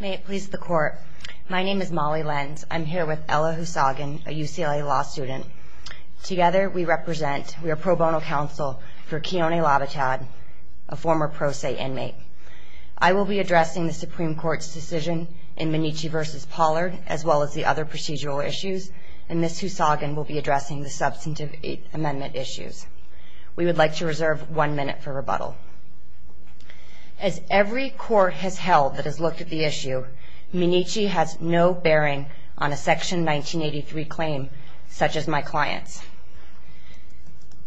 May it please the court. My name is Molly Lenz. I'm here with Ella Houssagan, a UCLA law student. Together we represent, we are pro bono counsel for Keone Labatad, a former Pro Se inmate. I will be addressing the Supreme Court's decision in Minnici v. Pollard, as well as the other procedural issues, and Ms. Houssagan will be addressing the substantive amendment issues. As every court has held that has looked at the issue, Minnici has no bearing on a Section 1983 claim, such as my client's.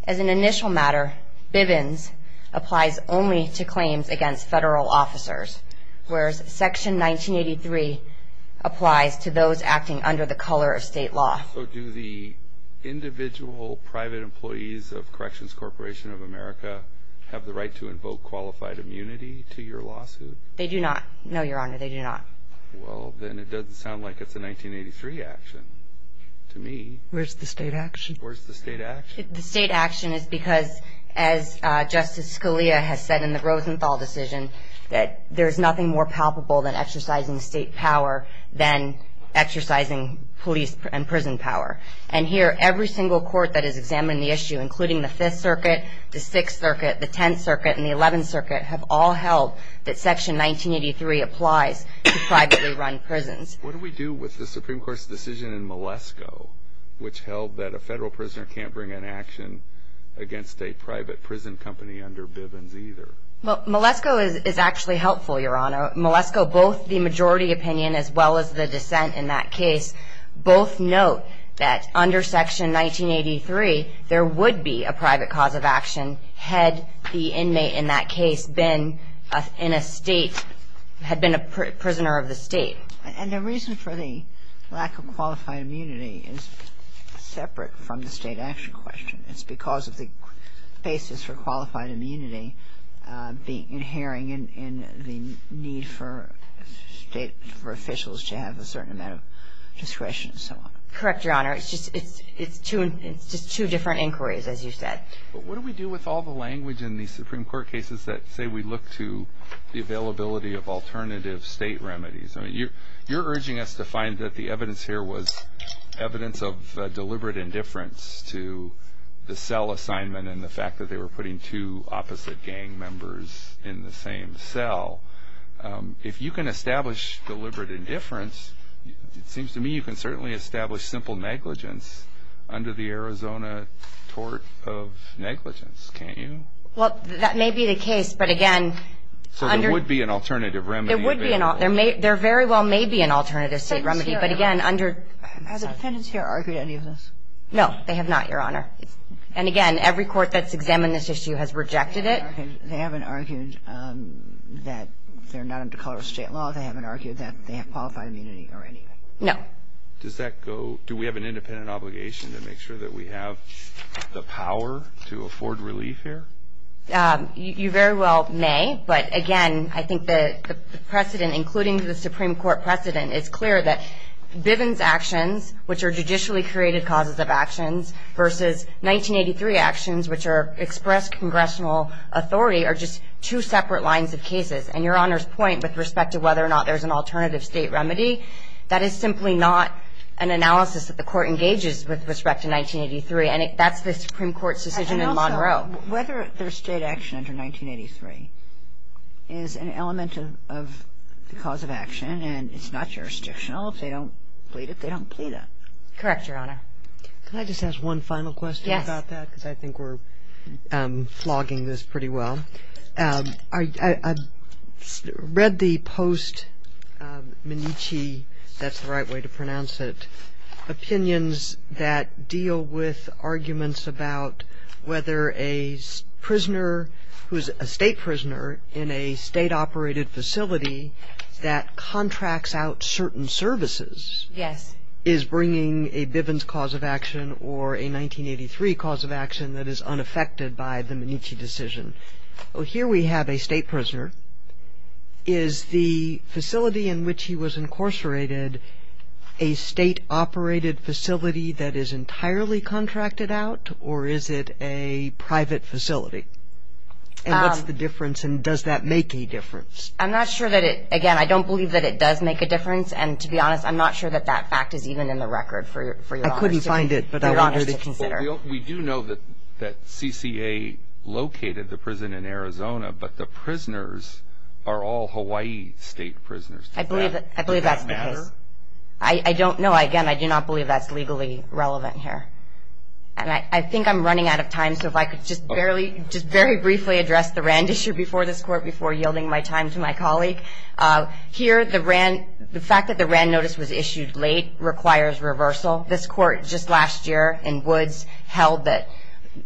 As an initial matter, Bivens applies only to claims against federal officers, whereas Section 1983 applies to those acting under the color of state law. Also, do the individual private employees of Corrections Corporation of America have the right to invoke qualified immunity to your lawsuit? They do not. No, Your Honor, they do not. Well, then it doesn't sound like it's a 1983 action to me. Where's the state action? Where's the state action? The state action is because, as Justice Scalia has said in the Rosenthal decision, that there's nothing more palpable than exercising state power than exercising police and prison power. And here, every single court that has examined the issue, including the Fifth Circuit, the Sixth Circuit, the Tenth Circuit, and the Eleventh Circuit, have all held that Section 1983 applies to privately run prisons. What do we do with the Supreme Court's decision in Malesko, which held that a federal prisoner can't bring an action against a private prison company under Bivens either? Well, Malesko is actually helpful, Your Honor. Malesko, both the majority opinion as well as the dissent in that case both note that under Section 1983, there would be a private cause of action had the inmate in that case been in a state, had been a prisoner of the state. And the reason for the lack of qualified immunity is separate from the state action question. It's because of the basis for qualified immunity inhering in the need for state, for officials to have a certain amount of discretion and so on. Correct, Your Honor. It's just two different inquiries, as you said. But what do we do with all the language in these Supreme Court cases that say we look to the availability of alternative state remedies? You're urging us to find that the evidence here was evidence of deliberate indifference to the cell assignment and the fact that they were putting two opposite gang members in the same cell. If you can establish deliberate indifference, it seems to me you can certainly establish simple negligence under the Arizona tort of negligence. Can't you? Well, that may be the case. But, again, under... So there would be an alternative remedy. There would be an alternative. There very well may be an alternative state remedy. But, again, under... Has the defendants here argued any of this? No, they have not, Your Honor. And, again, every court that's examined this issue has rejected it. They haven't argued that they're not under color of state law. They haven't argued that they have qualified immunity or anything. No. Does that go? Do we have an independent obligation to make sure that we have the power to afford relief here? You very well may. But, again, I think the precedent, including the Supreme Court precedent, is clear that Bivens' actions, which are judicially created causes of actions, versus 1983 actions, which are expressed congressional authority, are just two separate lines of cases. And Your Honor's point with respect to whether or not there's an alternative state remedy, that is simply not an analysis that the Court engages with respect to 1983. And that's the Supreme Court's decision in Monroe. Now, whether there's state action under 1983 is an element of the cause of action. And it's not jurisdictional. If they don't plead it, they don't plead it. Correct, Your Honor. Can I just ask one final question about that? Yes. Because I think we're flogging this pretty well. I read the post-Menicci, if that's the right way to pronounce it, opinions that deal with arguments about whether a prisoner who is a state prisoner in a state-operated facility that contracts out certain services is bringing a Bivens cause of action or a 1983 cause of action that is unaffected by the Menicci decision. Here we have a state prisoner. Is the facility in which he was incarcerated a state-operated facility that is entirely contracted out, or is it a private facility? And what's the difference, and does that make a difference? I'm not sure that it – again, I don't believe that it does make a difference. And to be honest, I'm not sure that that fact is even in the record for Your Honor. I couldn't find it, but I want her to consider. We do know that CCA located the prison in Arizona, but the prisoners are all Hawaii state prisoners. Does that matter? I believe that's the case. I don't know. Again, I do not believe that's legally relevant here. And I think I'm running out of time, so if I could just very briefly address the Rand issue before this court, before yielding my time to my colleague. Here, the fact that the Rand notice was issued late requires reversal. This court just last year in Woods held that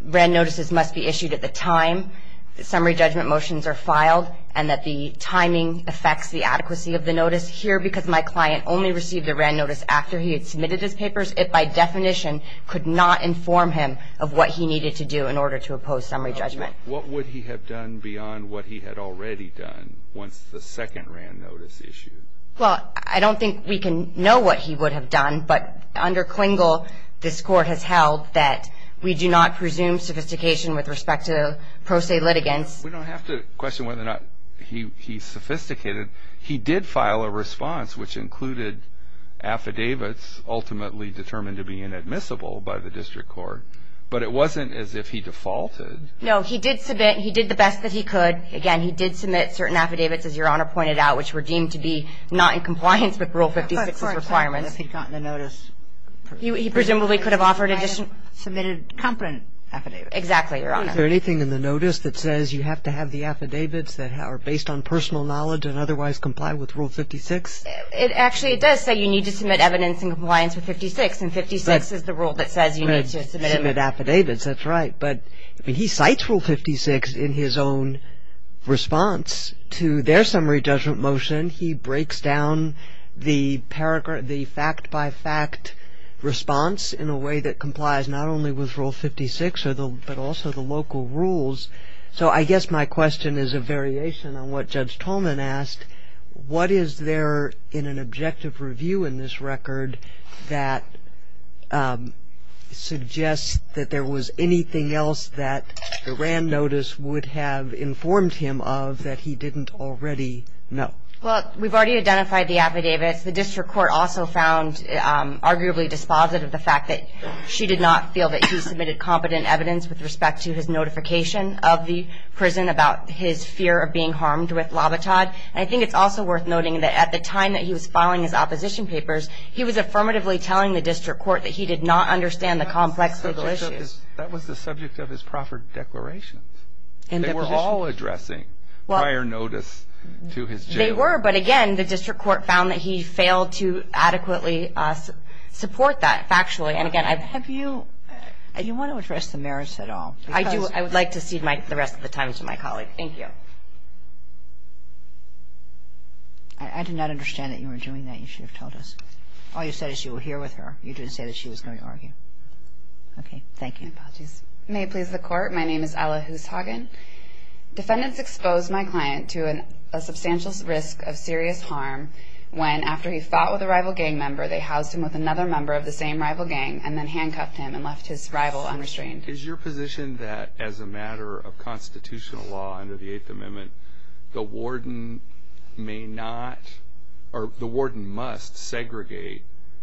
Rand notices must be issued at the time that summary judgment motions are filed and that the timing affects the adequacy of the notice. Here, because my client only received the Rand notice after he had submitted his papers, it by definition could not inform him of what he needed to do in order to oppose summary judgment. What would he have done beyond what he had already done once the second Rand notice issued? Well, I don't think we can know what he would have done, but under Klingel this court has held that we do not presume sophistication with respect to pro se litigants. We don't have to question whether or not he sophisticated. He did file a response which included affidavits ultimately determined to be inadmissible by the district court, but it wasn't as if he defaulted. No, he did submit. He did the best that he could. Again, he did submit certain affidavits, as Your Honor pointed out, which were deemed to be not in compliance with Rule 56's requirements. Of course, if he got the notice. He presumably could have offered additional. Submitted a competent affidavit. Exactly, Your Honor. Is there anything in the notice that says you have to have the affidavits that are based on personal knowledge and otherwise comply with Rule 56? Actually, it does say you need to submit evidence in compliance with 56, and 56 is the rule that says you need to submit an affidavit. That's right. But he cites Rule 56 in his own response to their summary judgment motion. He breaks down the fact-by-fact response in a way that complies not only with Rule 56 but also the local rules. So I guess my question is a variation on what Judge Tolman asked. What is there in an objective review in this record that suggests that there was anything else that the RAND notice would have informed him of that he didn't already know? Well, we've already identified the affidavits. The district court also found arguably dispositive of the fact that she did not feel that he submitted competent evidence with respect to his notification of the prison about his fear of being harmed with lobotod. And I think it's also worth noting that at the time that he was filing his opposition papers, he was affirmatively telling the district court that he did not understand the complex legal issues. That was the subject of his proffered declarations. They were all addressing prior notice to his jailer. They were, but again, the district court found that he failed to adequately support that factually. And again, I've – Do you want to address the merits at all? I would like to cede the rest of the time to my colleague. Thank you. All right. I did not understand that you were doing that. You should have told us. All you said is you were here with her. You didn't say that she was going to argue. Okay. Thank you. Apologies. May it please the Court? My name is Ella Hooshaugen. Defendants exposed my client to a substantial risk of serious harm when, after he fought with a rival gang member, they housed him with another member of the same rival gang and then handcuffed him and left his rival unrestrained. Is your position that, as a matter of constitutional law under the Eighth Amendment, the warden may not – or the warden must segregate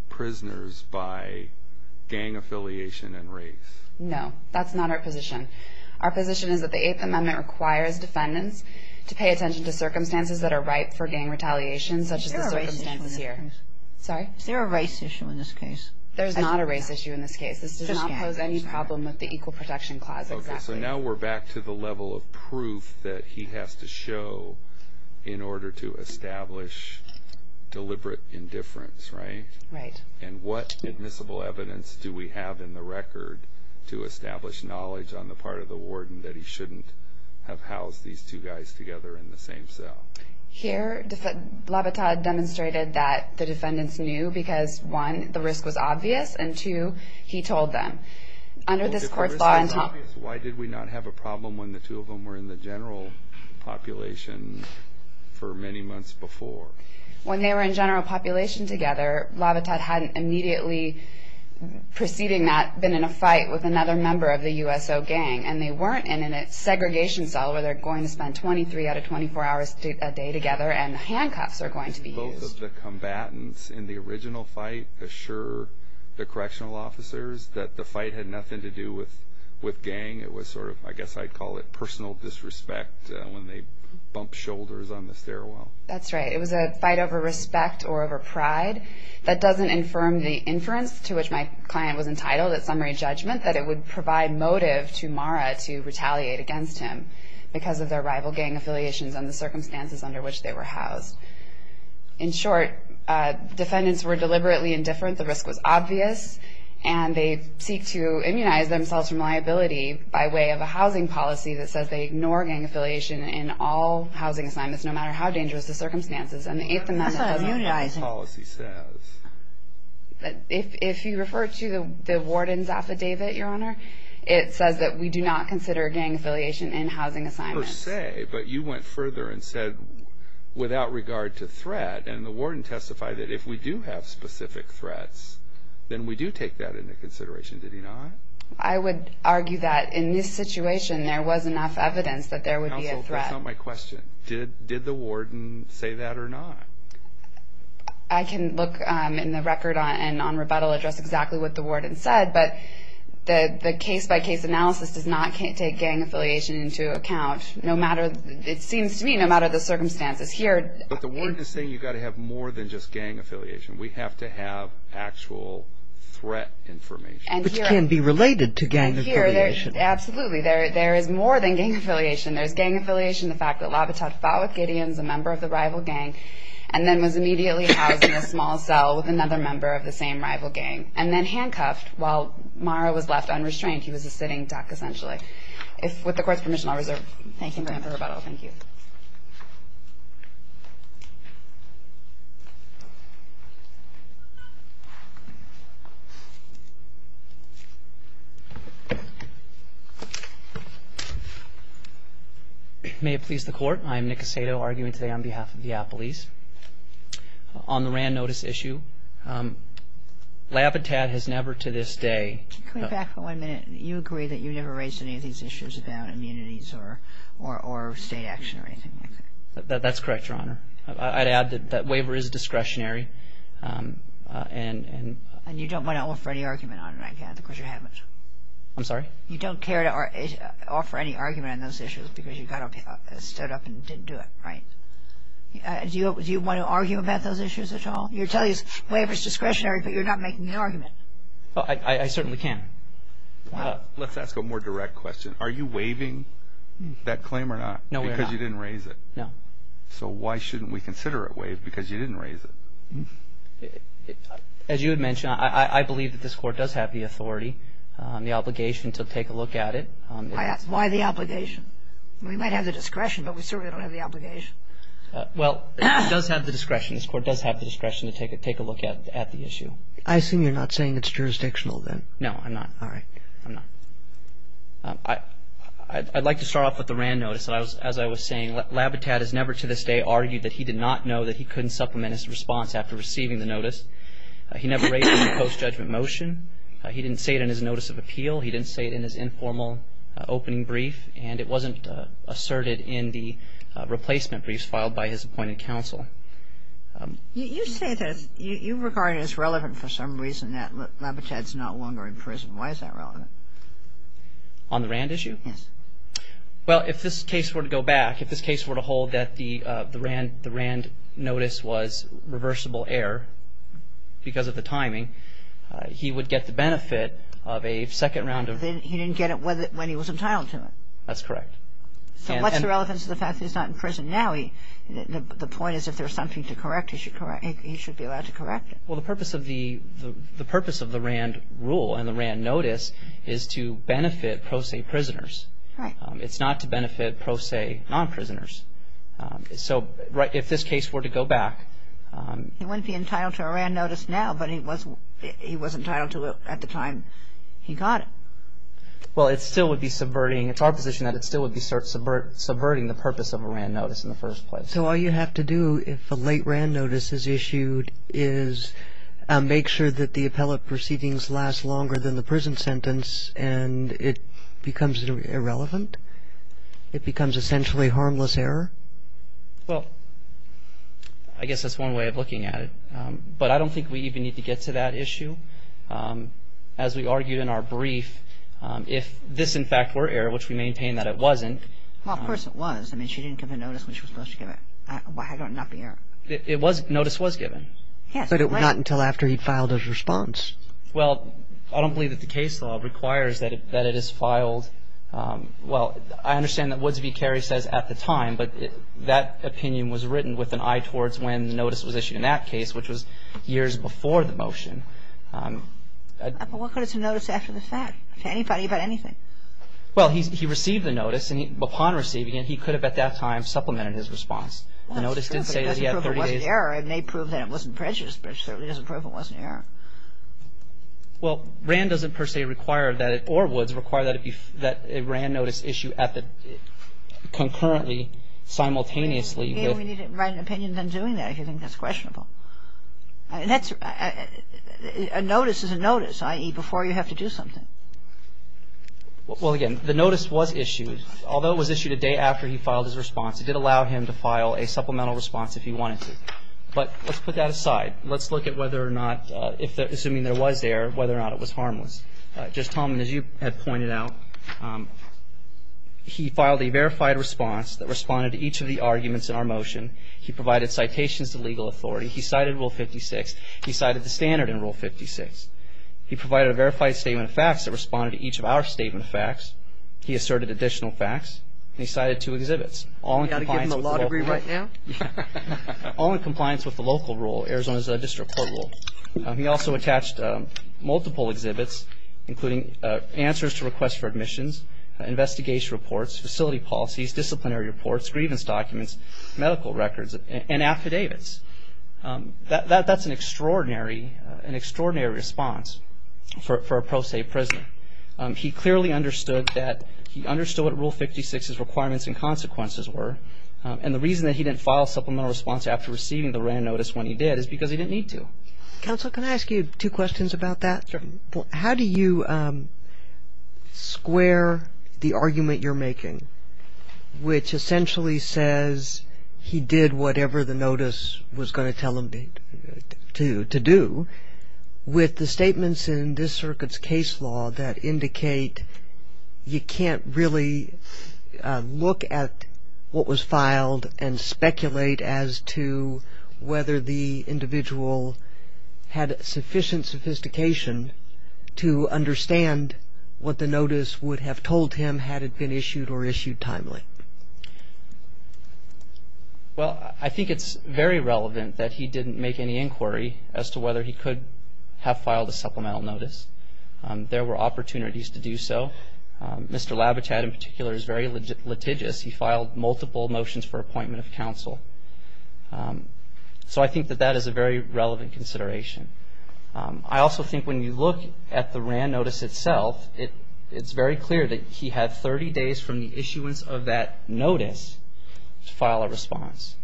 prisoners by gang affiliation and race? No. That's not our position. Our position is that the Eighth Amendment requires defendants to pay attention to circumstances that are ripe for gang retaliation, such as the circumstances here. Is there a race issue in this case? Sorry? Is there a race issue in this case? There is not a race issue in this case. This does not pose any problem with the Equal Protection Clause. Exactly. Okay. So now we're back to the level of proof that he has to show in order to establish deliberate indifference. Right? Right. And what admissible evidence do we have in the record to establish knowledge on the part of the warden that he shouldn't have housed these two guys together in the same cell? Here, Labattad demonstrated that the defendants knew because, one, the risk was obvious, and, two, he told them. Well, if the risk was obvious, why did we not have a problem when the two of them were in the general population for many months before? When they were in general population together, Labattad hadn't immediately preceding that been in a fight with another member of the USO gang, and they weren't in a segregation cell where they're going to spend 23 out of 24 hours a day together and handcuffs are going to be used. Did both of the combatants in the original fight assure the correctional officers that the fight had nothing to do with gang? It was sort of, I guess I'd call it personal disrespect when they bumped shoulders on the stairwell. That's right. It was a fight over respect or over pride. That doesn't infirm the inference to which my client was entitled at summary judgment that it would provide motive to Mara to retaliate against him because of their rival gang affiliations and the circumstances under which they were housed. In short, defendants were deliberately indifferent, the risk was obvious, and they seek to immunize themselves from liability by way of a housing policy that says they ignore gang affiliation in all housing assignments, no matter how dangerous the circumstances. And the Eighth Amendment doesn't... What does that policy say? If you refer to the warden's affidavit, Your Honor, it says that we do not consider gang affiliation in housing assignments. Per se, but you went further and said without regard to threat, and the warden testified that if we do have specific threats, then we do take that into consideration, did he not? I would argue that in this situation there was enough evidence that there would be a threat. Counsel, that's not my question. Did the warden say that or not? I can look in the record and on rebuttal address exactly what the warden said, but the case-by-case analysis does not take gang affiliation into account, no matter, it seems to me, no matter the circumstances. But the warden is saying you've got to have more than just gang affiliation. We have to have actual threat information. Which can be related to gang affiliation. Absolutely. There is more than gang affiliation. There's gang affiliation, the fact that Labatad fought with Gideon, a member of the rival gang, and then was immediately housed in a small cell with another member of the same rival gang, and then handcuffed while Mara was left unrestrained. He was a sitting duck, essentially. With the Court's permission, I'll reserve. Thank you, ma'am, for rebuttal. Thank you. May it please the Court. I am Nick Aceto, arguing today on behalf of the police. On the RAND notice issue, Labatad has never to this day... Can you come back for one minute? You agree that you never raised any of these issues about immunities or state action or anything like that? That's correct, Your Honor. I'd add that waiver is discretionary. And you don't want to offer any argument on it, I gather, because you haven't. I'm sorry? You don't care to offer any argument on those issues because you got up, stood up, and didn't do it, right? Do you want to argue about those issues at all? You're telling us waiver is discretionary, but you're not making the argument. I certainly can. Let's ask a more direct question. Are you waiving that claim or not? No, we're not. Because you didn't raise it? No. So why shouldn't we consider it waived because you didn't raise it? As you had mentioned, I believe that this Court does have the authority, the obligation to take a look at it. Why the obligation? We might have the discretion, but we certainly don't have the obligation. Well, it does have the discretion. This Court does have the discretion to take a look at the issue. I assume you're not saying it's jurisdictional then? No, I'm not. All right. I'm not. I'd like to start off with the Rand notice. As I was saying, Labitad has never to this day argued that he did not know that he couldn't supplement his response after receiving the notice. He never raised it in the post-judgment motion. He didn't say it in his notice of appeal. He didn't say it in his informal opening brief. And it wasn't asserted in the replacement briefs filed by his appointed counsel. You say this. You regard it as relevant for some reason that Labitad's no longer in prison. Why is that relevant? On the Rand issue? Yes. Well, if this case were to go back, if this case were to hold that the Rand notice was reversible error because of the timing, he would get the benefit of a second round of ---- So he didn't get it when he was entitled to it. That's correct. So what's the relevance of the fact that he's not in prison now? The point is if there's something to correct, he should be allowed to correct it. Well, the purpose of the Rand rule and the Rand notice is to benefit pro se prisoners. Right. It's not to benefit pro se non-prisoners. So if this case were to go back ---- He wouldn't be entitled to a Rand notice now, but he was entitled to it at the time he got it. Well, it still would be subverting. It's our position that it still would be subverting the purpose of a Rand notice in the first place. So all you have to do if a late Rand notice is issued is make sure that the appellate proceedings last longer than the prison sentence and it becomes irrelevant? It becomes essentially harmless error? Well, I guess that's one way of looking at it. But I don't think we even need to get to that issue. As we argued in our brief, if this, in fact, were error, which we maintain that it wasn't ---- Well, of course it was. I mean, she didn't give a notice when she was supposed to give it. Why would it not be error? It was ---- Notice was given. Yes. But not until after he filed his response. Well, I don't believe that the case law requires that it is filed. Well, I understand that Woods v. Carey says at the time. But that opinion was written with an eye towards when the notice was issued in that case, which was years before the motion. But what good is a notice after the fact to anybody about anything? Well, he received the notice. And upon receiving it, he could have at that time supplemented his response. Well, that's true, but it doesn't prove it wasn't error. It may prove that it wasn't prejudice, but it certainly doesn't prove it wasn't error. Well, RAND doesn't per se require that it ---- or Woods require that a RAND notice issue at the ---- concurrently, simultaneously with ---- Again, we need to write an opinion on doing that if you think that's questionable. A notice is a notice, i.e., before you have to do something. Well, again, the notice was issued. Although it was issued a day after he filed his response, it did allow him to file a supplemental response if he wanted to. But let's put that aside. Let's look at whether or not, assuming there was error, whether or not it was harmless. Just, Tom, as you had pointed out, he filed a verified response that responded to each of the arguments in our motion. He provided citations to legal authority. He cited Rule 56. He cited the standard in Rule 56. He provided a verified statement of facts that responded to each of our statement of facts. He asserted additional facts. And he cited two exhibits, all in compliance with the local rule. Do we have to give him the law degree right now? All in compliance with the local rule. Arizona's district court rule. He also attached multiple exhibits, including answers to requests for admissions, investigation reports, facility policies, disciplinary reports, grievance documents, medical records, and affidavits. That's an extraordinary response for a pro se prisoner. He clearly understood that, he understood what Rule 56's requirements and consequences were. And the reason that he didn't file a supplemental response after receiving the written notice when he did is because he didn't need to. Counsel, can I ask you two questions about that? Sure. How do you square the argument you're making, which essentially says he did whatever the notice was going to tell him to do, with the statements in this circuit's case law that indicate you can't really look at what was filed and speculate as to whether the individual had sufficient sophistication to understand what the notice would have told him had it been issued or issued timely? Well, I think it's very relevant that he didn't make any inquiry as to whether he could have filed a supplemental notice. There were opportunities to do so. Mr. Labichat, in particular, is very litigious. He filed multiple motions for appointment of counsel. So I think that that is a very relevant consideration. I also think when you look at the RAND notice itself, it's very clear that he had 30 days from the issuance of that notice to file a response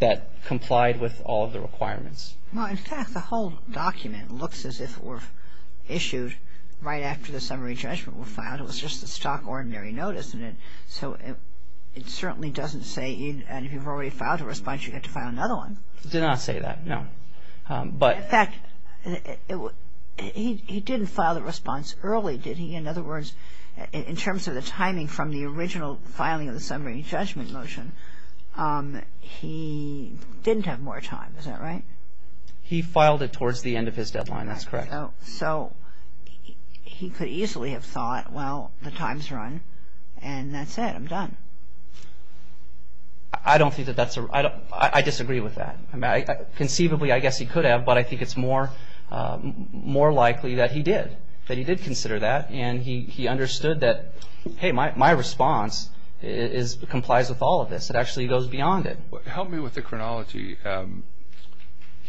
that complied with all of the requirements. Well, in fact, the whole document looks as if it were issued right after the summary judgment was filed. It was just the stock ordinary notice. So it certainly doesn't say, and if you've already filed a response, you get to file another one. It did not say that, no. In fact, he didn't file the response early, did he? In other words, in terms of the timing from the original filing of the summary judgment motion, he didn't have more time. Is that right? He filed it towards the end of his deadline. That's correct. So he could easily have thought, well, the time's run, and that's it. I'm done. I disagree with that. Conceivably, I guess he could have, but I think it's more likely that he did. That he did consider that, and he understood that, hey, my response complies with all of this. It actually goes beyond it. Help me with the chronology.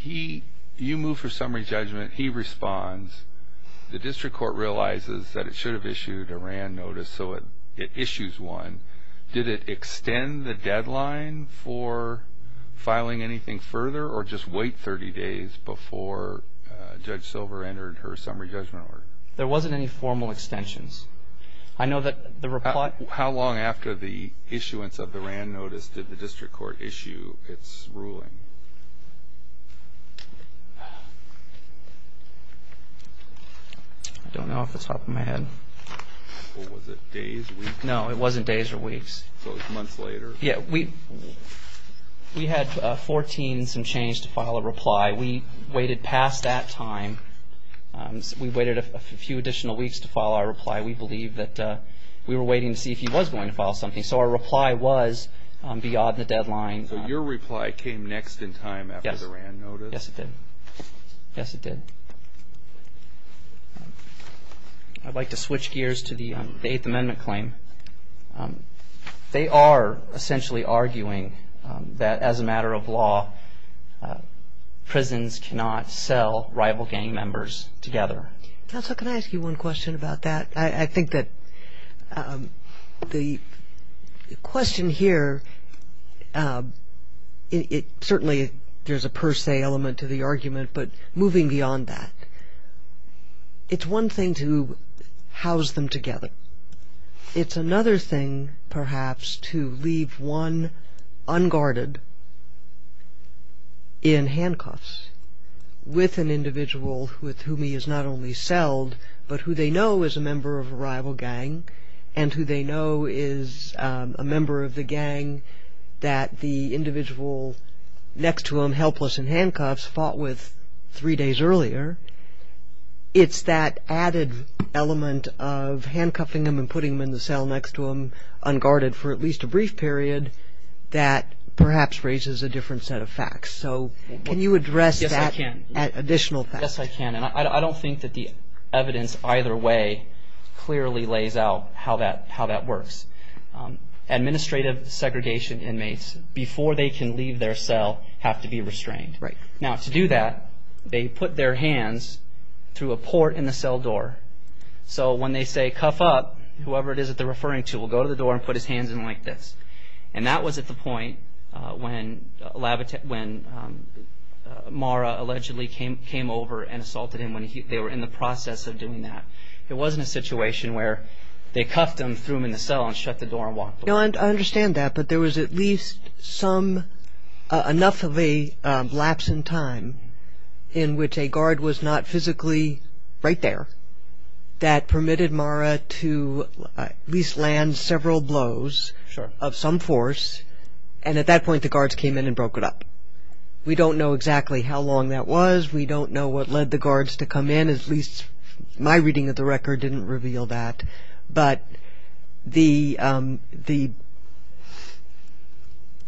You move for summary judgment. He responds. The district court realizes that it should have issued a RAND notice, so it issues one. Did it extend the deadline for filing anything further, or just wait 30 days before Judge Silver entered her summary judgment order? There wasn't any formal extensions. How long after the issuance of the RAND notice did the district court issue its ruling? I don't know off the top of my head. Was it days, weeks? No, it wasn't days or weeks. So it was months later? Yeah. We had 14 and some change to file a reply. We waited past that time. We waited a few additional weeks to file our reply. We believe that we were waiting to see if he was going to file something. So our reply was beyond the deadline. So your reply came next in time after the RAND notice? Yes, it did. Yes, it did. I'd like to switch gears to the Eighth Amendment claim. They are essentially arguing that, as a matter of law, prisons cannot sell rival gang members together. Counsel, can I ask you one question about that? I think that the question here, certainly there's a per se element to the argument, but moving beyond that, it's one thing to house them together. It's another thing, perhaps, to leave one unguarded in handcuffs with an individual with whom he has not only sold but who they know is a member of a rival gang and who they know is a member of the gang that the individual next to him, helpless in handcuffs, fought with three days earlier. It's that added element of handcuffing him and putting him in the cell next to him, unguarded for at least a brief period, that perhaps raises a different set of facts. So can you address that additional fact? Yes, I can. And I don't think that the evidence either way clearly lays out how that works. Administrative segregation inmates, before they can leave their cell, have to be restrained. Right. Now, to do that, they put their hands through a port in the cell door. So when they say, cuff up, whoever it is that they're referring to will go to the door and put his hands in like this. And that was at the point when Mara allegedly came over and assaulted him, when they were in the process of doing that. It wasn't a situation where they cuffed him, threw him in the cell, and shut the door and walked away. No, I understand that. But there was at least enough of a lapse in time in which a guard was not physically right there that permitted Mara to at least land several blows of some force. And at that point, the guards came in and broke it up. We don't know exactly how long that was. We don't know what led the guards to come in. At least my reading of the record didn't reveal that. But the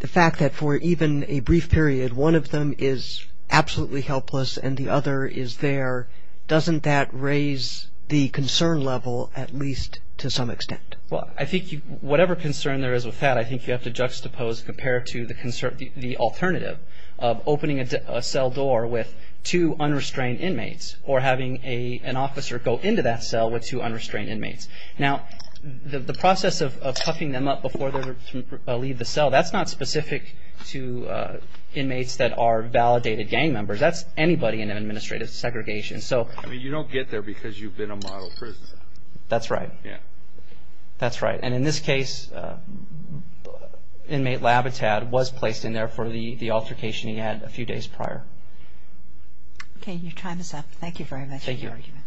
fact that for even a brief period, one of them is absolutely helpless and the other is there, doesn't that raise the concern level at least to some extent? Well, I think whatever concern there is with that, I think you have to juxtapose compared to the alternative of opening a cell door with two unrestrained inmates or having an officer go into that cell with two unrestrained inmates. Now, the process of cuffing them up before they leave the cell, that's not specific to inmates that are validated gang members. That's anybody in an administrative segregation. I mean, you don't get there because you've been a model prisoner. That's right. Yeah. That's right. And in this case, inmate Labitad was placed in there for the altercation he had a few days prior. Okay. Your time is up. Thank you very much for your argument.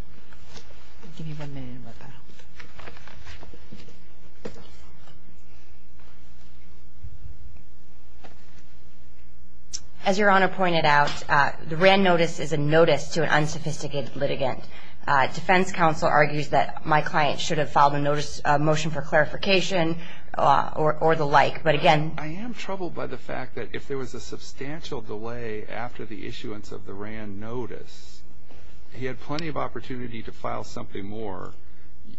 Thank you. I'll give you one minute to work that out. As Your Honor pointed out, the WRAN notice is a notice to an unsophisticated litigant. Defense counsel argues that my client should have filed a motion for clarification or the like. I am troubled by the fact that if there was a substantial delay after the issuance of the WRAN notice, he had plenty of opportunity to file something more.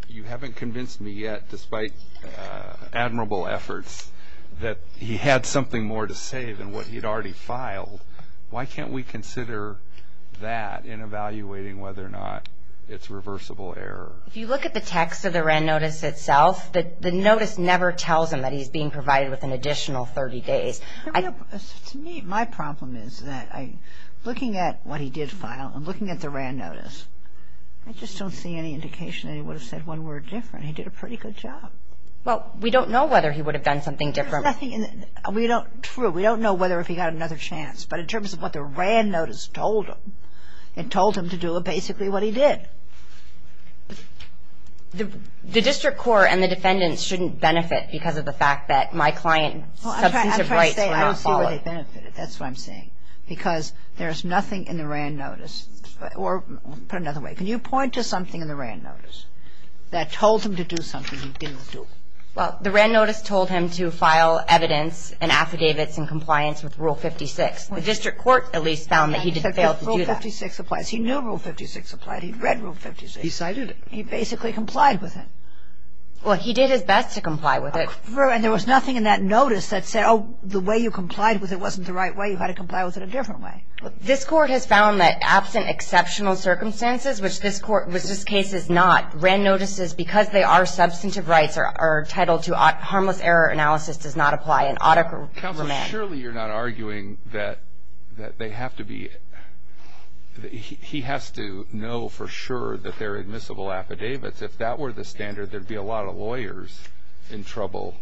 You haven't convinced me yet, despite admirable efforts, that he had something more to say than what he'd already filed. Why can't we consider that in evaluating whether or not it's reversible error? If you look at the text of the WRAN notice itself, the notice never tells him that he's being provided with an additional 30 days. To me, my problem is that looking at what he did file and looking at the WRAN notice, I just don't see any indication that he would have said one word different. He did a pretty good job. Well, we don't know whether he would have done something different. True. We don't know whether if he got another chance. But in terms of what the WRAN notice told him, it told him to do basically what he did. The district court and the defendants shouldn't benefit because of the fact that my client's substantive rights were not followed. Well, I'm trying to say I don't see where they benefited. That's what I'm saying. Because there's nothing in the WRAN notice or, put another way, can you point to something in the WRAN notice that told him to do something he didn't do? Well, the WRAN notice told him to file evidence and affidavits in compliance with Rule 56. The district court at least found that he did fail to do that. Rule 56 applies. He knew Rule 56 applied. He read Rule 56. He cited it. He basically complied with it. Well, he did his best to comply with it. And there was nothing in that notice that said, oh, the way you complied with it wasn't the right way, you had to comply with it a different way. This Court has found that absent exceptional circumstances, which this Court, which this case is not, WRAN notices, because they are substantive rights, are entitled to harmless error analysis does not apply and ought to remain. Counsel, surely you're not arguing that they have to be he has to know for sure that there are admissible affidavits. If that were the standard, there would be a lot of lawyers in trouble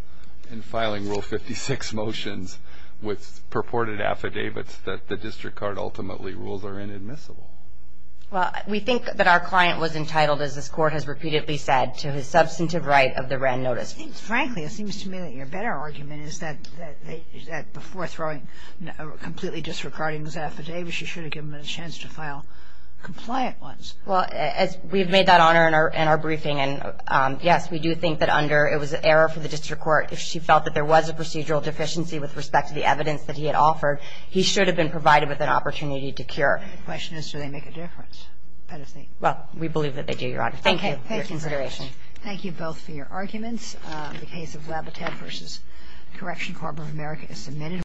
in filing Rule 56 motions with purported affidavits that the district court ultimately rules are inadmissible. Well, we think that our client was entitled, as this Court has repeatedly said, to his substantive right of the WRAN notice. Frankly, it seems to me that your better argument is that before throwing a completely disregarding his affidavit, she should have given him a chance to file compliant ones. Well, as we have made that honor in our briefing, and, yes, we do think that under it was an error for the district court. If she felt that there was a procedural deficiency with respect to the evidence that he had offered, he should have been provided with an opportunity to cure. My question is, do they make a difference? Well, we believe that they do, Your Honor. Thank you for your consideration. Thank you both for your arguments. The case of Labateb v. Correctional Department of America is submitted.